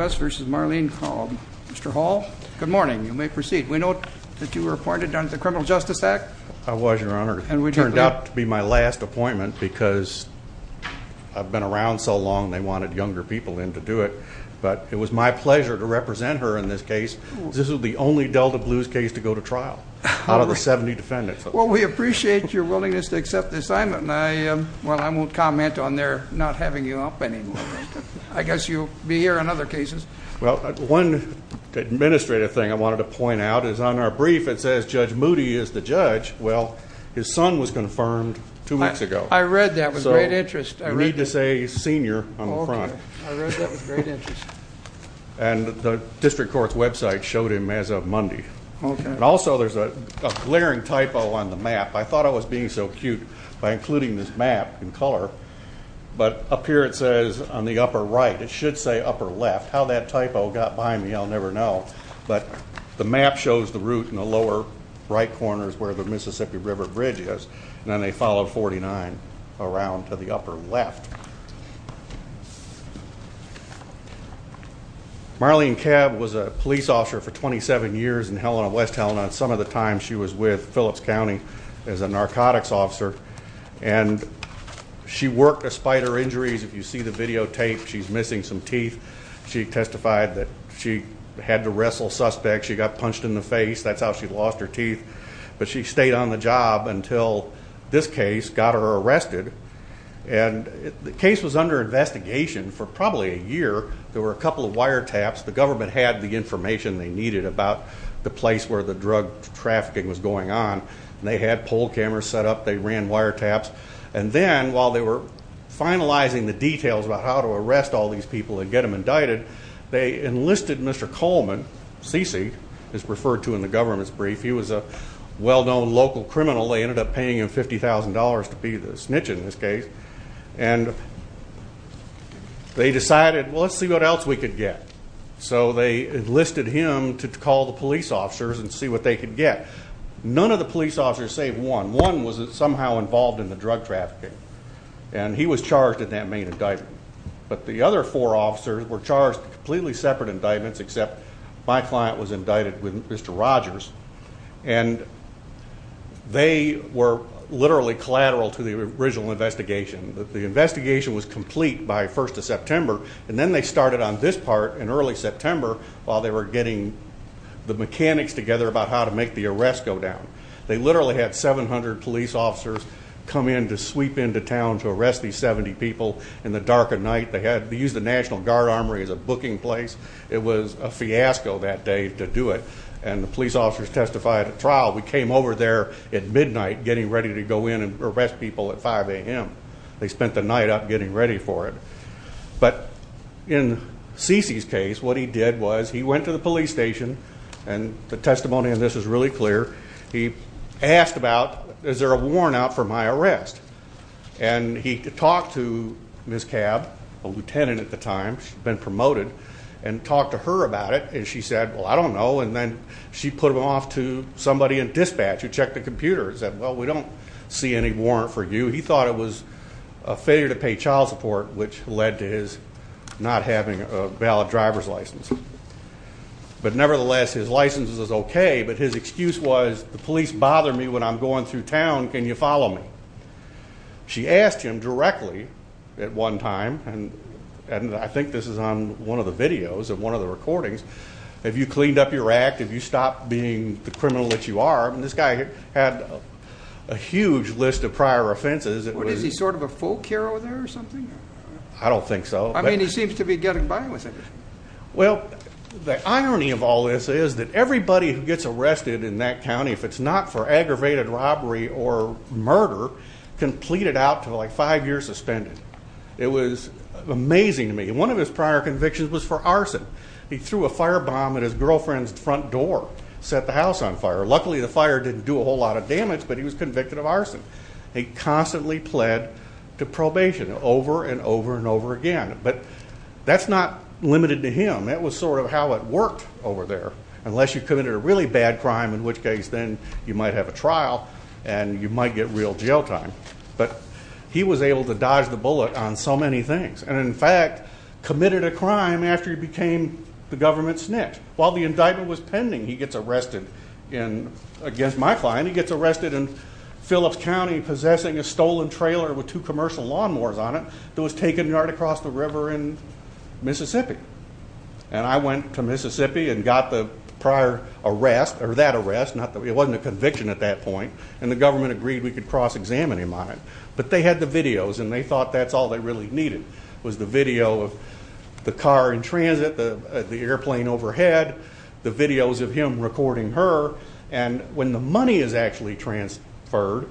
Mr. Hall, good morning. You may proceed. We know that you were appointed under the Criminal Justice Act. I was, Your Honor. It turned out to be my last appointment because I've been around so long they wanted younger people in to do it. But it was my pleasure to represent her in this case. This is the only Delta Blues case to go to trial out of the 70 defendants. Well, we appreciate your willingness to accept the assignment. Well, I won't comment on their not having you up anymore. I guess you'll be here on other cases. Well, one administrative thing I wanted to point out is on our brief it says Judge Moody is the judge. Well, his son was confirmed two weeks ago. I read that with great interest. You need to say senior on the front. I read that with great interest. And the District Court's website showed him as of Monday. And also there's a glaring typo on the map. I thought I was being so cute by including this map in color. But up here it says on the upper right. It should say upper left. How that typo got by me, I'll never know. But the map shows the route in the lower right corner is where the Mississippi River Bridge is. And then they follow 49 around to the upper left. Marlene Cab was a police officer for 27 years in Helena, West Helena. And some of the time she was with Phillips County as a narcotics officer. And she worked despite her injuries. If you see the videotape, she's missing some teeth. She testified that she had to wrestle suspects. She got punched in the face. That's how she lost her teeth. But she stayed on the job until this case got her arrested. And the case was under investigation for probably a year. There were a couple of wiretaps. The government had the information they needed about the place where the drug trafficking was going on. And they had pole cameras set up. They ran wiretaps. And then while they were finalizing the details about how to arrest all these people and get them indicted, they enlisted Mr. Coleman, C.C. is referred to in the government's brief. He was a well-known local criminal. They ended up paying him $50,000 to be the snitch in this case. And they decided, well, let's see what else we could get. So they enlisted him to call the police officers and see what they could get. None of the police officers saved one. One was somehow involved in the drug trafficking. And he was charged in that main indictment. But the other four officers were charged completely separate indictments, except my client was indicted with Mr. Rogers. And they were literally collateral to the original investigation. The investigation was complete by 1st of September, and then they started on this part in early September while they were getting the mechanics together about how to make the arrests go down. They literally had 700 police officers come in to sweep into town to arrest these 70 people in the dark of night. They used the National Guard Armory as a booking place. It was a fiasco that day to do it. And the police officers testified at trial. We came over there at midnight getting ready to go in and arrest people at 5 a.m. They spent the night out getting ready for it. But in C.C.'s case, what he did was he went to the police station and the testimony in this is really clear. He asked about, is there a warrant out for my arrest? And he talked to Ms. Cab, a lieutenant at the time, she'd been promoted, and talked to her about it. And she said, well, I don't know. And then she put him off to somebody in dispatch who checked the computer and said, well, we don't see any warrant for you. He thought it was a failure to pay child support, which led to his not having a valid driver's license. But nevertheless, his license was okay, but his excuse was, the police bother me when I'm going through town, can you follow me? She asked him directly at one time, and I think this is on one of the videos of one of the recordings, have you cleaned up your act? Have you stopped being the criminal that you are? And this guy had a huge list of prior offenses. Was he sort of a folk hero there or something? I don't think so. I mean, he seems to be getting by with it. Well, the irony of all this is that everybody who gets arrested in that county, if it's not for aggravated robbery or murder, can plead it out to, like, five years suspended. It was amazing to me. One of his prior convictions was for arson. He threw a firebomb at his girlfriend's front door, set the house on fire. Luckily, the fire didn't do a whole lot of damage, but he was convicted of arson. He constantly pled to probation over and over and over again. But that's not limited to him. That was sort of how it worked over there, unless you committed a really bad crime, in which case then you might have a trial and you might get real jail time. But he was able to dodge the bullet on so many things and, in fact, committed a crime after he became the government's snitch. While the indictment was pending, he gets arrested against my client. He gets arrested in Phillips County possessing a stolen trailer with two commercial lawnmowers on it that was taken right across the river in Mississippi. And I went to Mississippi and got the prior arrest, or that arrest. It wasn't a conviction at that point, and the government agreed we could cross-examine him on it. But they had the videos, and they thought that's all they really needed was the video of the car in transit, the airplane overhead, the videos of him recording her. And when the money is actually transferred,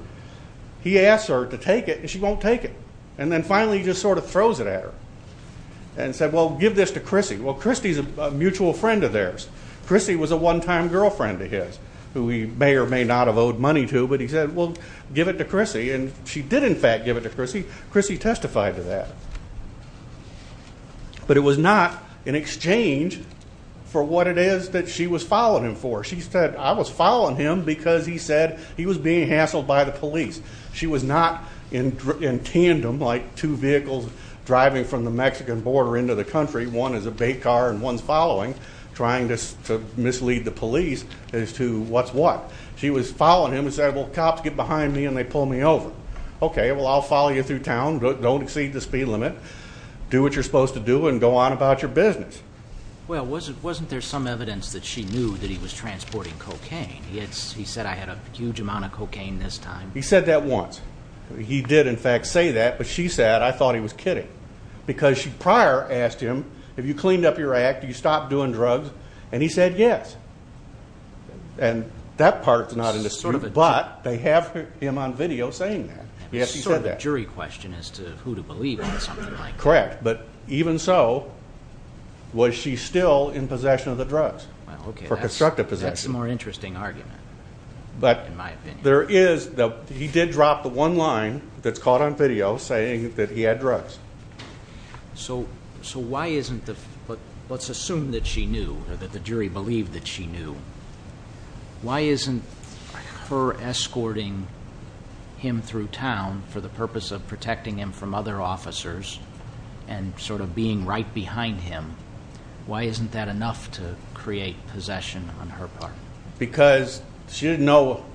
he asks her to take it, and she won't take it. And then finally he just sort of throws it at her and said, well, give this to Chrissy. Well, Chrissy's a mutual friend of theirs. Chrissy was a one-time girlfriend of his who he may or may not have owed money to, but he said, well, give it to Chrissy. And she did, in fact, give it to Chrissy. Chrissy testified to that. But it was not in exchange for what it is that she was filing him for. She said, I was filing him because he said he was being hassled by the police. She was not in tandem like two vehicles driving from the Mexican border into the country, one is a bait car and one's following, trying to mislead the police as to what's what. She was following him and said, well, cops get behind me and they pull me over. Okay, well, I'll follow you through town. Don't exceed the speed limit. Do what you're supposed to do and go on about your business. Well, wasn't there some evidence that she knew that he was transporting cocaine? He said, I had a huge amount of cocaine this time. He said that once. He did, in fact, say that, but she said, I thought he was kidding. Because she prior asked him, have you cleaned up your act? Do you stop doing drugs? And he said yes. And that part's not in the suit, but they have him on video saying that. Yes, she said that. Sort of a jury question as to who to believe in something like that. Correct. But even so, was she still in possession of the drugs for constructive possession? That's a more interesting argument, in my opinion. There is. He did drop the one line that's caught on video saying that he had drugs. So why isn't the, let's assume that she knew or that the jury believed that she knew. Why isn't her escorting him through town for the purpose of protecting him from other officers and sort of being right behind him, why isn't that enough to create possession on her part? Because she didn't know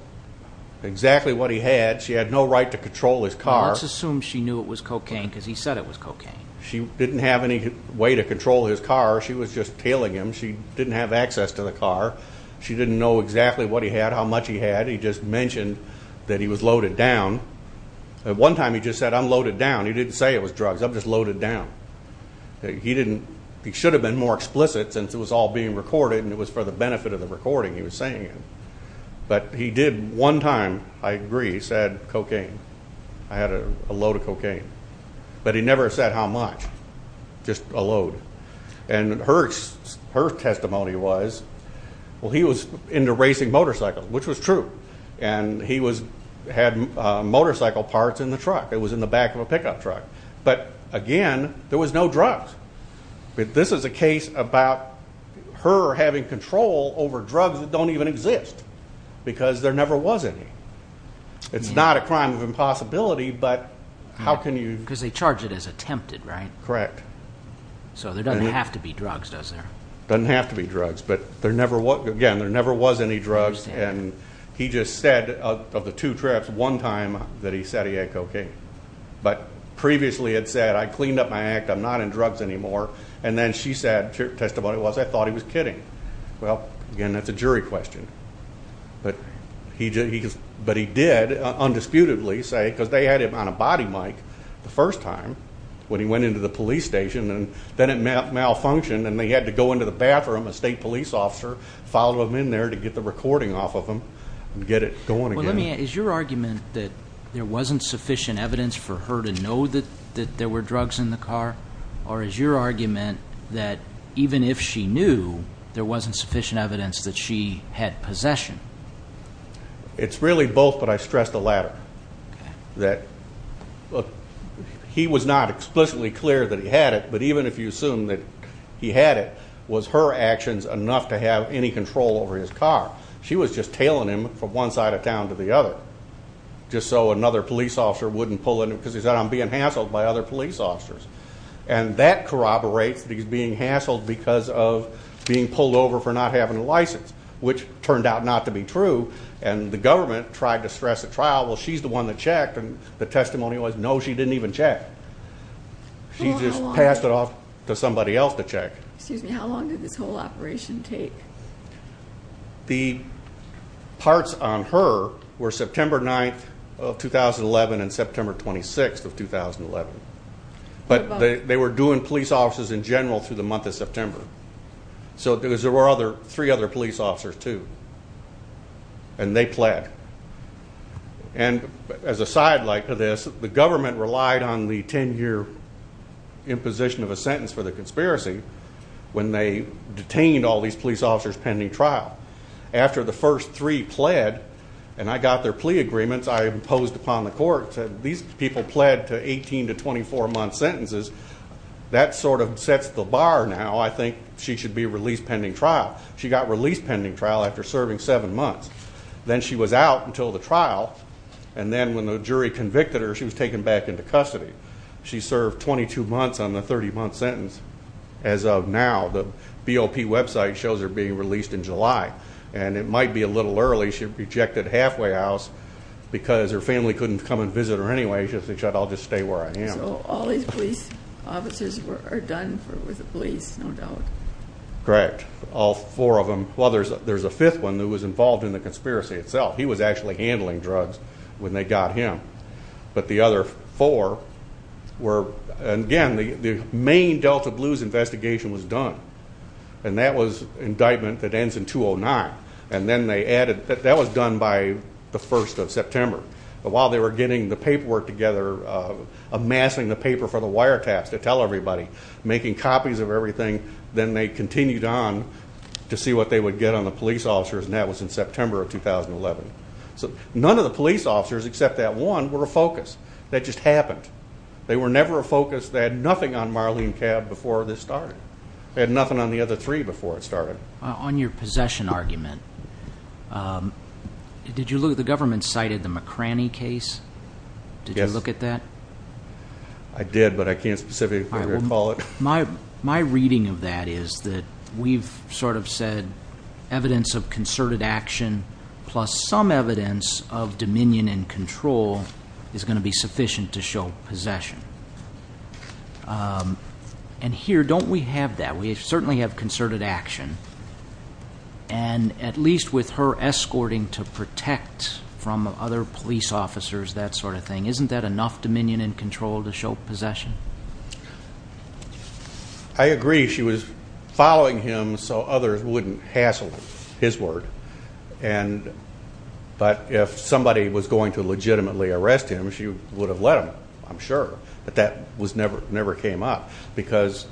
exactly what he had. She had no right to control his car. Let's assume she knew it was cocaine because he said it was cocaine. She didn't have any way to control his car. She was just tailing him. She didn't have access to the car. She didn't know exactly what he had, how much he had. He just mentioned that he was loaded down. At one time he just said, I'm loaded down. He didn't say it was drugs. I'm just loaded down. He didn't, he should have been more explicit since it was all being recorded and it was for the benefit of the recording he was saying it. But he did one time, I agree, he said cocaine. I had a load of cocaine. But he never said how much, just a load. And her testimony was, well, he was into racing motorcycles, which was true. And he had motorcycle parts in the truck. It was in the back of a pickup truck. But, again, there was no drugs. This is a case about her having control over drugs that don't even exist because there never was any. It's not a crime of impossibility, but how can you? Because they charge it as attempted, right? Correct. So there doesn't have to be drugs, does there? Doesn't have to be drugs, but, again, there never was any drugs. And he just said of the two trips, one time that he said he had cocaine. But previously had said, I cleaned up my act, I'm not in drugs anymore. And then she said, her testimony was, I thought he was kidding. Well, again, that's a jury question. But he did undisputedly say, because they had him on a body mic the first time when he went into the police station, and then it malfunctioned and they had to go into the bathroom, a state police officer, follow him in there to get the recording off of him and get it going again. Is your argument that there wasn't sufficient evidence for her to know that there were drugs in the car? Or is your argument that even if she knew, there wasn't sufficient evidence that she had possession? It's really both, but I stress the latter, that he was not explicitly clear that he had it, but even if you assume that he had it, was her actions enough to have any control over his car? She was just tailing him from one side of town to the other, just so another police officer wouldn't pull in, because he said, I'm being hassled by other police officers. And that corroborates that he's being hassled because of being pulled over for not having a license, which turned out not to be true. And the government tried to stress at trial, well, she's the one that checked, and the testimony was, no, she didn't even check. She just passed it off to somebody else to check. Excuse me, how long did this whole operation take? The parts on her were September 9th of 2011 and September 26th of 2011. But they were doing police officers in general through the month of September. So there were three other police officers, too. And they pled. And as a sidelight for this, the government relied on the 10-year imposition of a sentence for the conspiracy when they detained all these police officers pending trial. After the first three pled, and I got their plea agreements, I imposed upon the courts that these people pled to 18 to 24-month sentences. That sort of sets the bar now. I think she should be released pending trial. She got released pending trial after serving seven months. Then she was out until the trial, and then when the jury convicted her, she was taken back into custody. She served 22 months on the 30-month sentence. As of now, the BOP website shows her being released in July, and it might be a little early. She rejected halfway house because her family couldn't come and visit her anyway. She said, I'll just stay where I am. So all these police officers are done with the police, no doubt. Correct. All four of them. Well, there's a fifth one who was involved in the conspiracy itself. He was actually handling drugs when they got him. But the other four were, again, the main Delta Blues investigation was done, and that was an indictment that ends in 209. And then they added that that was done by the 1st of September. While they were getting the paperwork together, amassing the paper for the wiretaps to tell everybody, making copies of everything, then they continued on to see what they would get on the police officers, and that was in September of 2011. So none of the police officers except that one were a focus. That just happened. They were never a focus. They had nothing on Marlene Cab before this started. They had nothing on the other three before it started. On your possession argument, did you look at the government cited the McCranny case? Did you look at that? I did, but I can't specifically recall it. My reading of that is that we've sort of said evidence of concerted action plus some evidence of dominion and control is going to be sufficient to show possession. And here, don't we have that? We certainly have concerted action, and at least with her escorting to protect from other police officers, that sort of thing, isn't that enough dominion and control to show possession? I agree. She was following him so others wouldn't hassle him, his word. But if somebody was going to legitimately arrest him, she would have let him, I'm sure. But that never came up because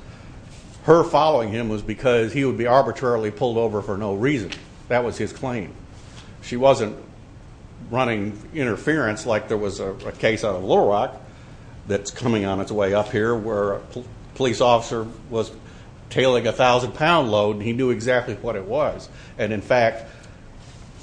her following him was because he would be arbitrarily pulled over for no reason. That was his claim. She wasn't running interference like there was a case out of Little Rock that's coming on its way up here where a police officer was tailing a thousand-pound load, and he knew exactly what it was, and in fact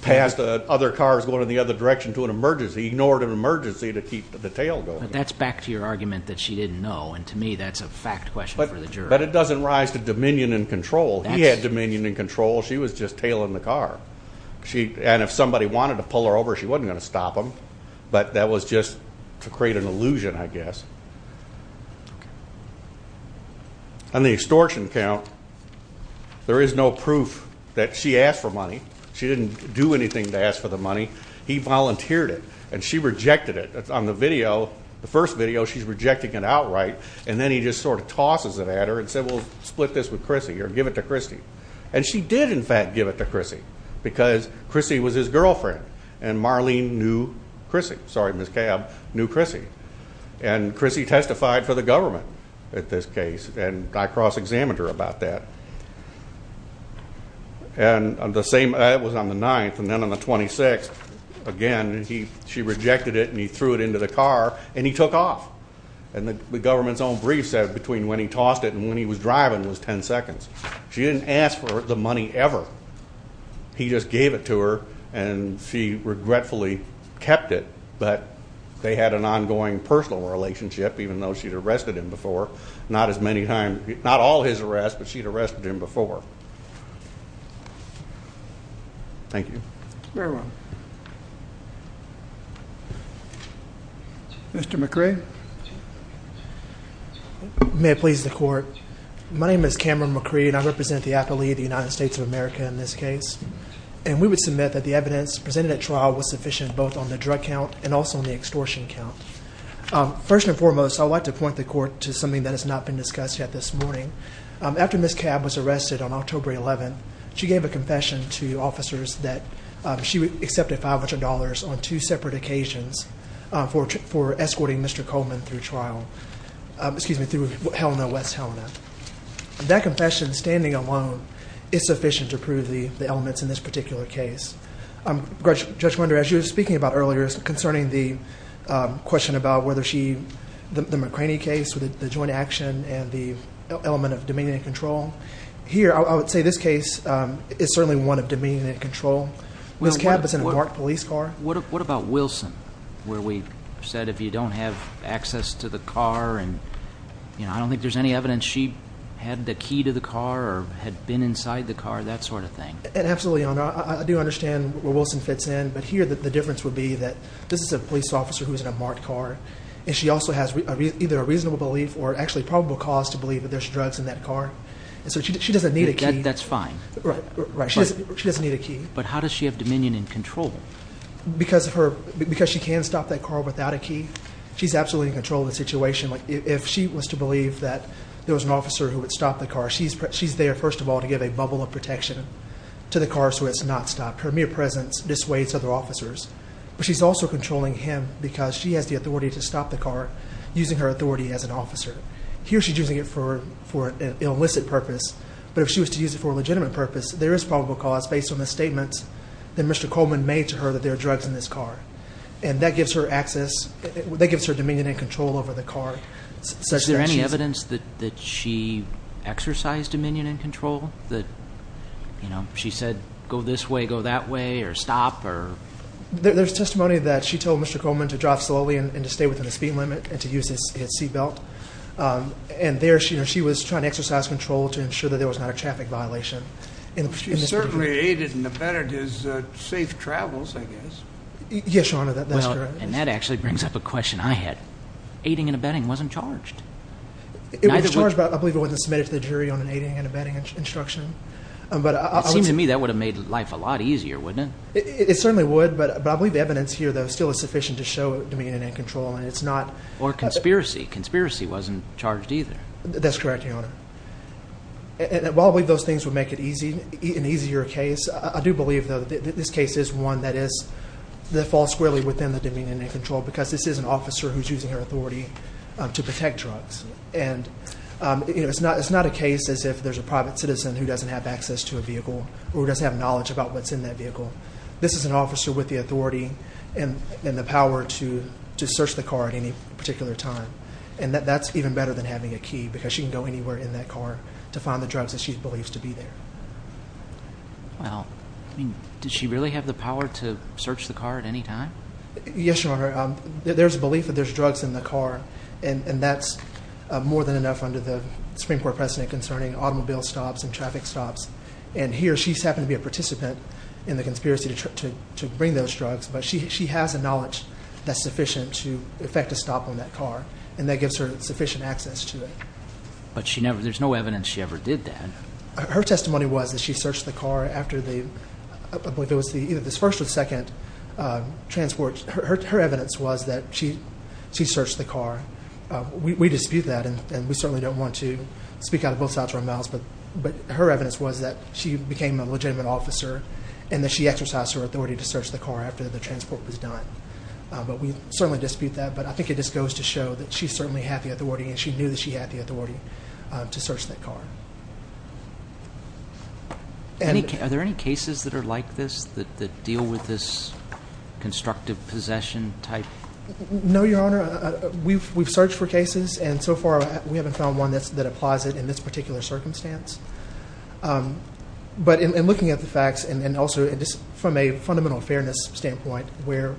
passed other cars going in the other direction to an emergency, ignored an emergency to keep the tail going. But that's back to your argument that she didn't know, and to me that's a fact question for the jury. But it doesn't rise to dominion and control. He had dominion and control. She was just tailing the car. And if somebody wanted to pull her over, she wasn't going to stop them, but that was just to create an illusion, I guess. On the extortion count, there is no proof that she asked for money. She didn't do anything to ask for the money. He volunteered it, and she rejected it. On the video, the first video, she's rejecting it outright, and then he just sort of tosses it at her and said, we'll split this with Chrissy or give it to Chrissy. And she did, in fact, give it to Chrissy because Chrissy was his girlfriend and Marlene knew Chrissy. Sorry, Ms. Cabb knew Chrissy. And Chrissy testified for the government at this case, and I cross-examined her about that. And the same was on the 9th, and then on the 26th, again, she rejected it and he threw it into the car, and he took off. And the government's own brief said between when he tossed it and when he was driving was 10 seconds. She didn't ask for the money ever. He just gave it to her, and she regretfully kept it, but they had an ongoing personal relationship, even though she'd arrested him before. Not as many times, not all his arrests, but she'd arrested him before. Thank you. Very well. Mr. McRae? Mr. McRae? May it please the Court. My name is Cameron McRae, and I represent the athlete of the United States of America in this case. And we would submit that the evidence presented at trial was sufficient both on the drug count and also on the extortion count. First and foremost, I'd like to point the Court to something that has not been discussed yet this morning. After Ms. Cabb was arrested on October 11th, she gave a confession to officers that she accepted $500 on two separate occasions for escorting Mr. Coleman through trial, excuse me, through Helena, West Helena. That confession, standing alone, is sufficient to prove the elements in this particular case. Judge Wender, as you were speaking about earlier concerning the question about whether she, the McCraney case with the joint action and the element of dominion and control, here I would say this case is certainly one of dominion and control. Ms. Cabb is in a marked police car. What about Wilson where we said if you don't have access to the car and I don't think there's any evidence she had the key to the car or had been inside the car, that sort of thing? Absolutely, Your Honor. I do understand where Wilson fits in, but here the difference would be that this is a police officer who is in a marked car, and she also has either a reasonable belief or actually probable cause to believe that there's drugs in that car. So she doesn't need a key. That's fine. Right. She doesn't need a key. But how does she have dominion and control? Because she can stop that car without a key, she's absolutely in control of the situation. If she was to believe that there was an officer who would stop the car, she's there, first of all, to give a bubble of protection to the car so it's not stopped. Her mere presence dissuades other officers. But she's also controlling him because she has the authority to stop the car using her authority as an officer. Here she's using it for an illicit purpose, but if she was to use it for a legitimate purpose, there is probable cause based on the statements that Mr. Coleman made to her that there are drugs in this car. And that gives her access, that gives her dominion and control over the car. Is there any evidence that she exercised dominion and control, that she said, go this way, go that way, or stop? There's testimony that she told Mr. Coleman to drive slowly and to stay within the speed limit and to use his seat belt. And there she was trying to exercise control to ensure that there was not a traffic violation. It certainly aided and abetted his safe travels, I guess. Yes, Your Honor, that's correct. And that actually brings up a question I had. Aiding and abetting wasn't charged. It was charged, but I believe it wasn't submitted to the jury on an aiding and abetting instruction. It seems to me that would have made life a lot easier, wouldn't it? It certainly would, but I believe the evidence here, though, still is sufficient to show dominion and control. Or conspiracy. Conspiracy wasn't charged either. That's correct, Your Honor. While I believe those things would make it an easier case, I do believe, though, that this case is one that falls squarely within the dominion and control because this is an officer who's using her authority to protect drugs. And it's not a case as if there's a private citizen who doesn't have access to a vehicle or who doesn't have knowledge about what's in that vehicle. This is an officer with the authority and the power to search the car at any particular time. And that's even better than having a key because she can go anywhere in that car to find the drugs that she believes to be there. Well, I mean, does she really have the power to search the car at any time? Yes, Your Honor. There's a belief that there's drugs in the car, and that's more than enough under the Supreme Court precedent concerning automobile stops and traffic stops. And here she's happened to be a participant in the conspiracy to bring those drugs, but she has the knowledge that's sufficient to effect a stop on that car, and that gives her sufficient access to it. But there's no evidence she ever did that. Her testimony was that she searched the car after the first or second transport. Her evidence was that she searched the car. We dispute that, and we certainly don't want to speak out of both sides of our mouths, but her evidence was that she became a legitimate officer and that she exercised her authority to search the car after the transport was done. But we certainly dispute that. But I think it just goes to show that she certainly had the authority, and she knew that she had the authority to search that car. Are there any cases that are like this that deal with this constructive possession type? No, Your Honor. We've searched for cases, and so far we haven't found one that applies it in this particular circumstance. But in looking at the facts and also from a fundamental fairness standpoint where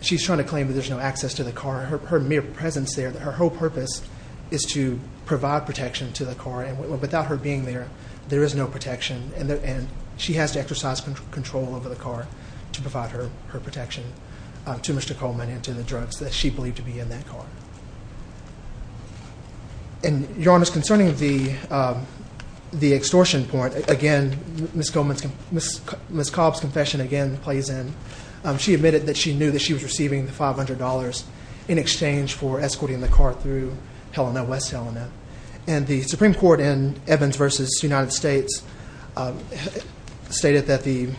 she's trying to claim that there's no access to the car, her mere presence there, her whole purpose is to provide protection to the car, and without her being there, there is no protection, and she has to exercise control over the car to provide her protection to Mr. Coleman and to the drugs that she believed to be in that car. Your Honor, concerning the extortion point, again, Ms. Cobb's confession again plays in. She admitted that she knew that she was receiving the $500 in exchange for escorting the car through West Helena. And the Supreme Court in Evans v. United States stated that the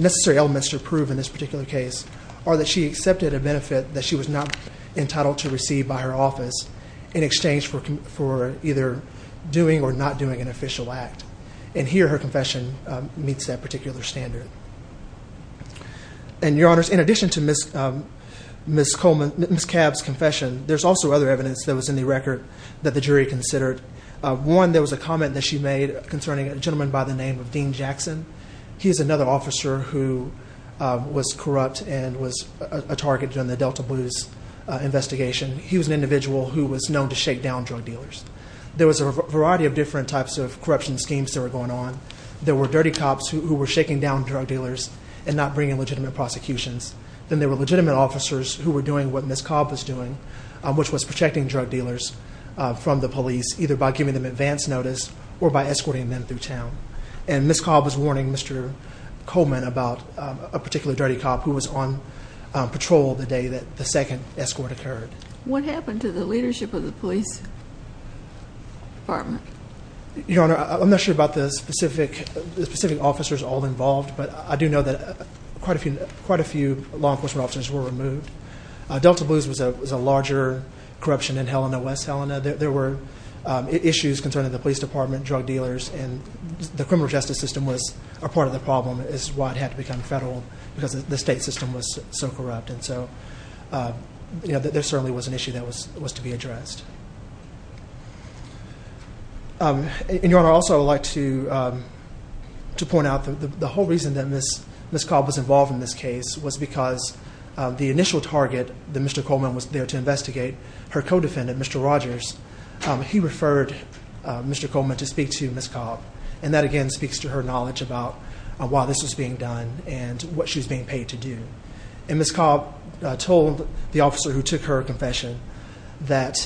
necessary elements to prove in this particular case are that she accepted a benefit that she was not entitled to receive by her office in exchange for either doing or not doing an official act. And here her confession meets that particular standard. And, Your Honors, in addition to Ms. Cobb's confession, there's also other evidence that was in the record that the jury considered. One, there was a comment that she made concerning a gentleman by the name of Dean Jackson. He's another officer who was corrupt and was a target during the Delta Blues investigation. He was an individual who was known to shake down drug dealers. There was a variety of different types of corruption schemes that were going on. There were dirty cops who were shaking down drug dealers and not bringing legitimate prosecutions. Then there were legitimate officers who were doing what Ms. Cobb was doing, which was protecting drug dealers from the police, either by giving them advance notice or by escorting them through town. And Ms. Cobb was warning Mr. Coleman about a particular dirty cop who was on patrol the day that the second escort occurred. What happened to the leadership of the police department? Your Honor, I'm not sure about the specific officers all involved, but I do know that quite a few law enforcement officers were removed. Delta Blues was a larger corruption in Helena, West Helena. There were issues concerning the police department, drug dealers, and the criminal justice system was a part of the problem is why it had to become federal because the state system was so corrupt. There certainly was an issue that was to be addressed. Your Honor, I'd also like to point out the whole reason that Ms. Cobb was involved in this case was because the initial target that Mr. Coleman was there to investigate, her co-defendant, Mr. Rogers, he referred Mr. Coleman to speak to Ms. Cobb, and that again speaks to her knowledge about why this was being done and what she was being paid to do. Ms. Cobb told the officer who took her confession that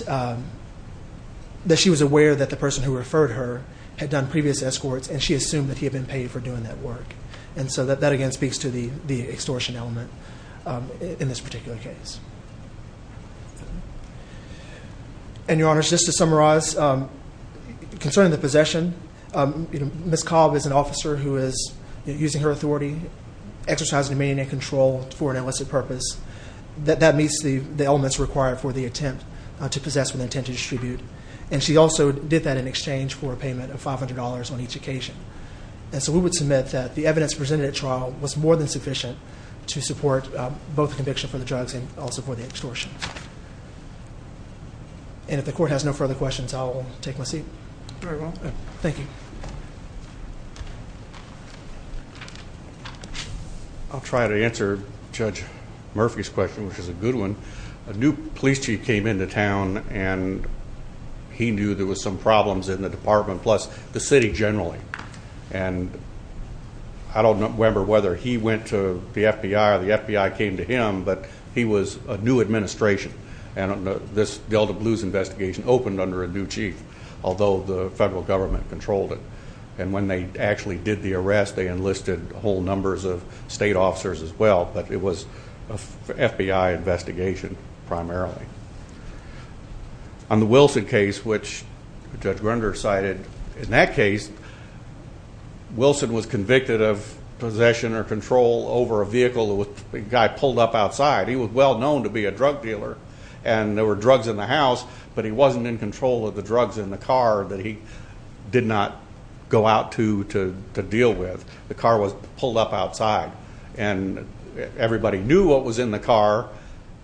she was aware that the person who referred her had done previous escorts, and she assumed that he had been paid for doing that work. And so that again speaks to the extortion element in this particular case. And, Your Honor, just to summarize, concerning the possession, Ms. Cobb is an officer who is using her authority, exercising dominion and control for an illicit purpose. That meets the elements required for the attempt to possess with intent to distribute, and she also did that in exchange for a payment of $500 on each occasion. And so we would submit that the evidence presented at trial was more than sufficient to support both the conviction for the drugs and also for the extortion. And if the court has no further questions, I will take my seat. Very well. Thank you. I'll try to answer Judge Murphy's question, which is a good one. A new police chief came into town, and he knew there were some problems in the department, plus the city generally. And I don't remember whether he went to the FBI or the FBI came to him, but he was a new administration, and this Delta Blues investigation opened under a new chief, although the federal government controlled it. And when they actually did the arrest, they enlisted whole numbers of state officers as well, but it was an FBI investigation primarily. On the Wilson case, which Judge Grunder cited, in that case Wilson was convicted of possession or control over a vehicle that a guy pulled up outside. He was well known to be a drug dealer, and there were drugs in the house, but he wasn't in control of the drugs in the car that he did not go out to deal with. The car was pulled up outside, and everybody knew what was in the car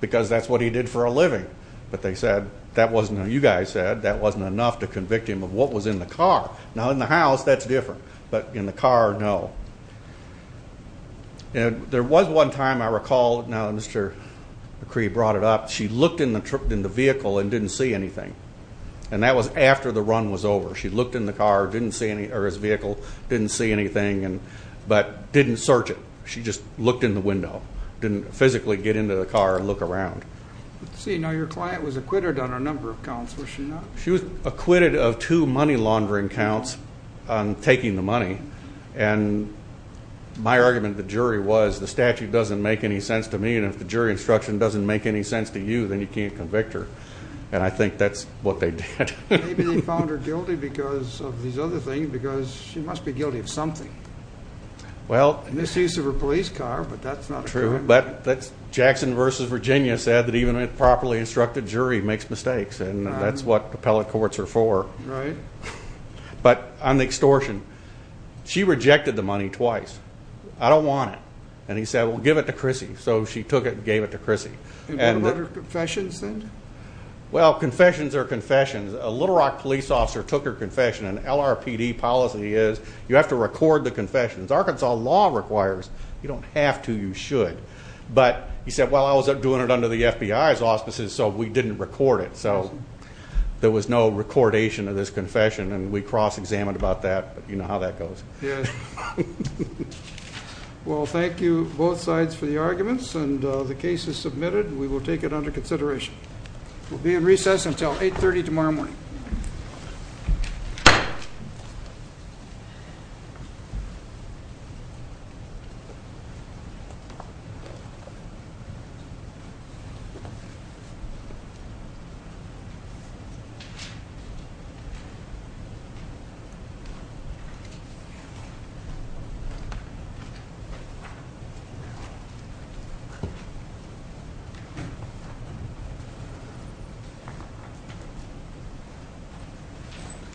because that's what he did for a living. But they said that wasn't what you guys said. That wasn't enough to convict him of what was in the car. Now, in the house, that's different, but in the car, no. There was one time I recall, now Mr. McCree brought it up, she looked in the vehicle and didn't see anything, and that was after the run was over. She looked in the car or his vehicle, didn't see anything, but didn't search it. She just looked in the window, didn't physically get into the car and look around. Your client was acquitted on a number of counts, was she not? She was acquitted of two money laundering counts on taking the money, and my argument to the jury was the statute doesn't make any sense to me, and if the jury instruction doesn't make any sense to you, then you can't convict her. And I think that's what they did. Maybe they found her guilty because of these other things, because she must be guilty of something. Well, misuse of a police car, but that's not true. But Jackson v. Virginia said that even a properly instructed jury makes mistakes, and that's what appellate courts are for. Right. But on the extortion, she rejected the money twice. I don't want it. And he said, well, give it to Chrissy. So she took it and gave it to Chrissy. And what about her confessions then? Well, confessions are confessions. A Little Rock police officer took her confession, and LRPD policy is you have to record the confessions. Arkansas law requires you don't have to, you should. But he said, well, I was doing it under the FBI's auspices, so we didn't record it. So there was no recordation of this confession, and we cross-examined about that. You know how that goes. Yes. Well, thank you, both sides, for the arguments. And the case is submitted. We will take it under consideration. We'll be in recess until 8.30 tomorrow morning. Thank you.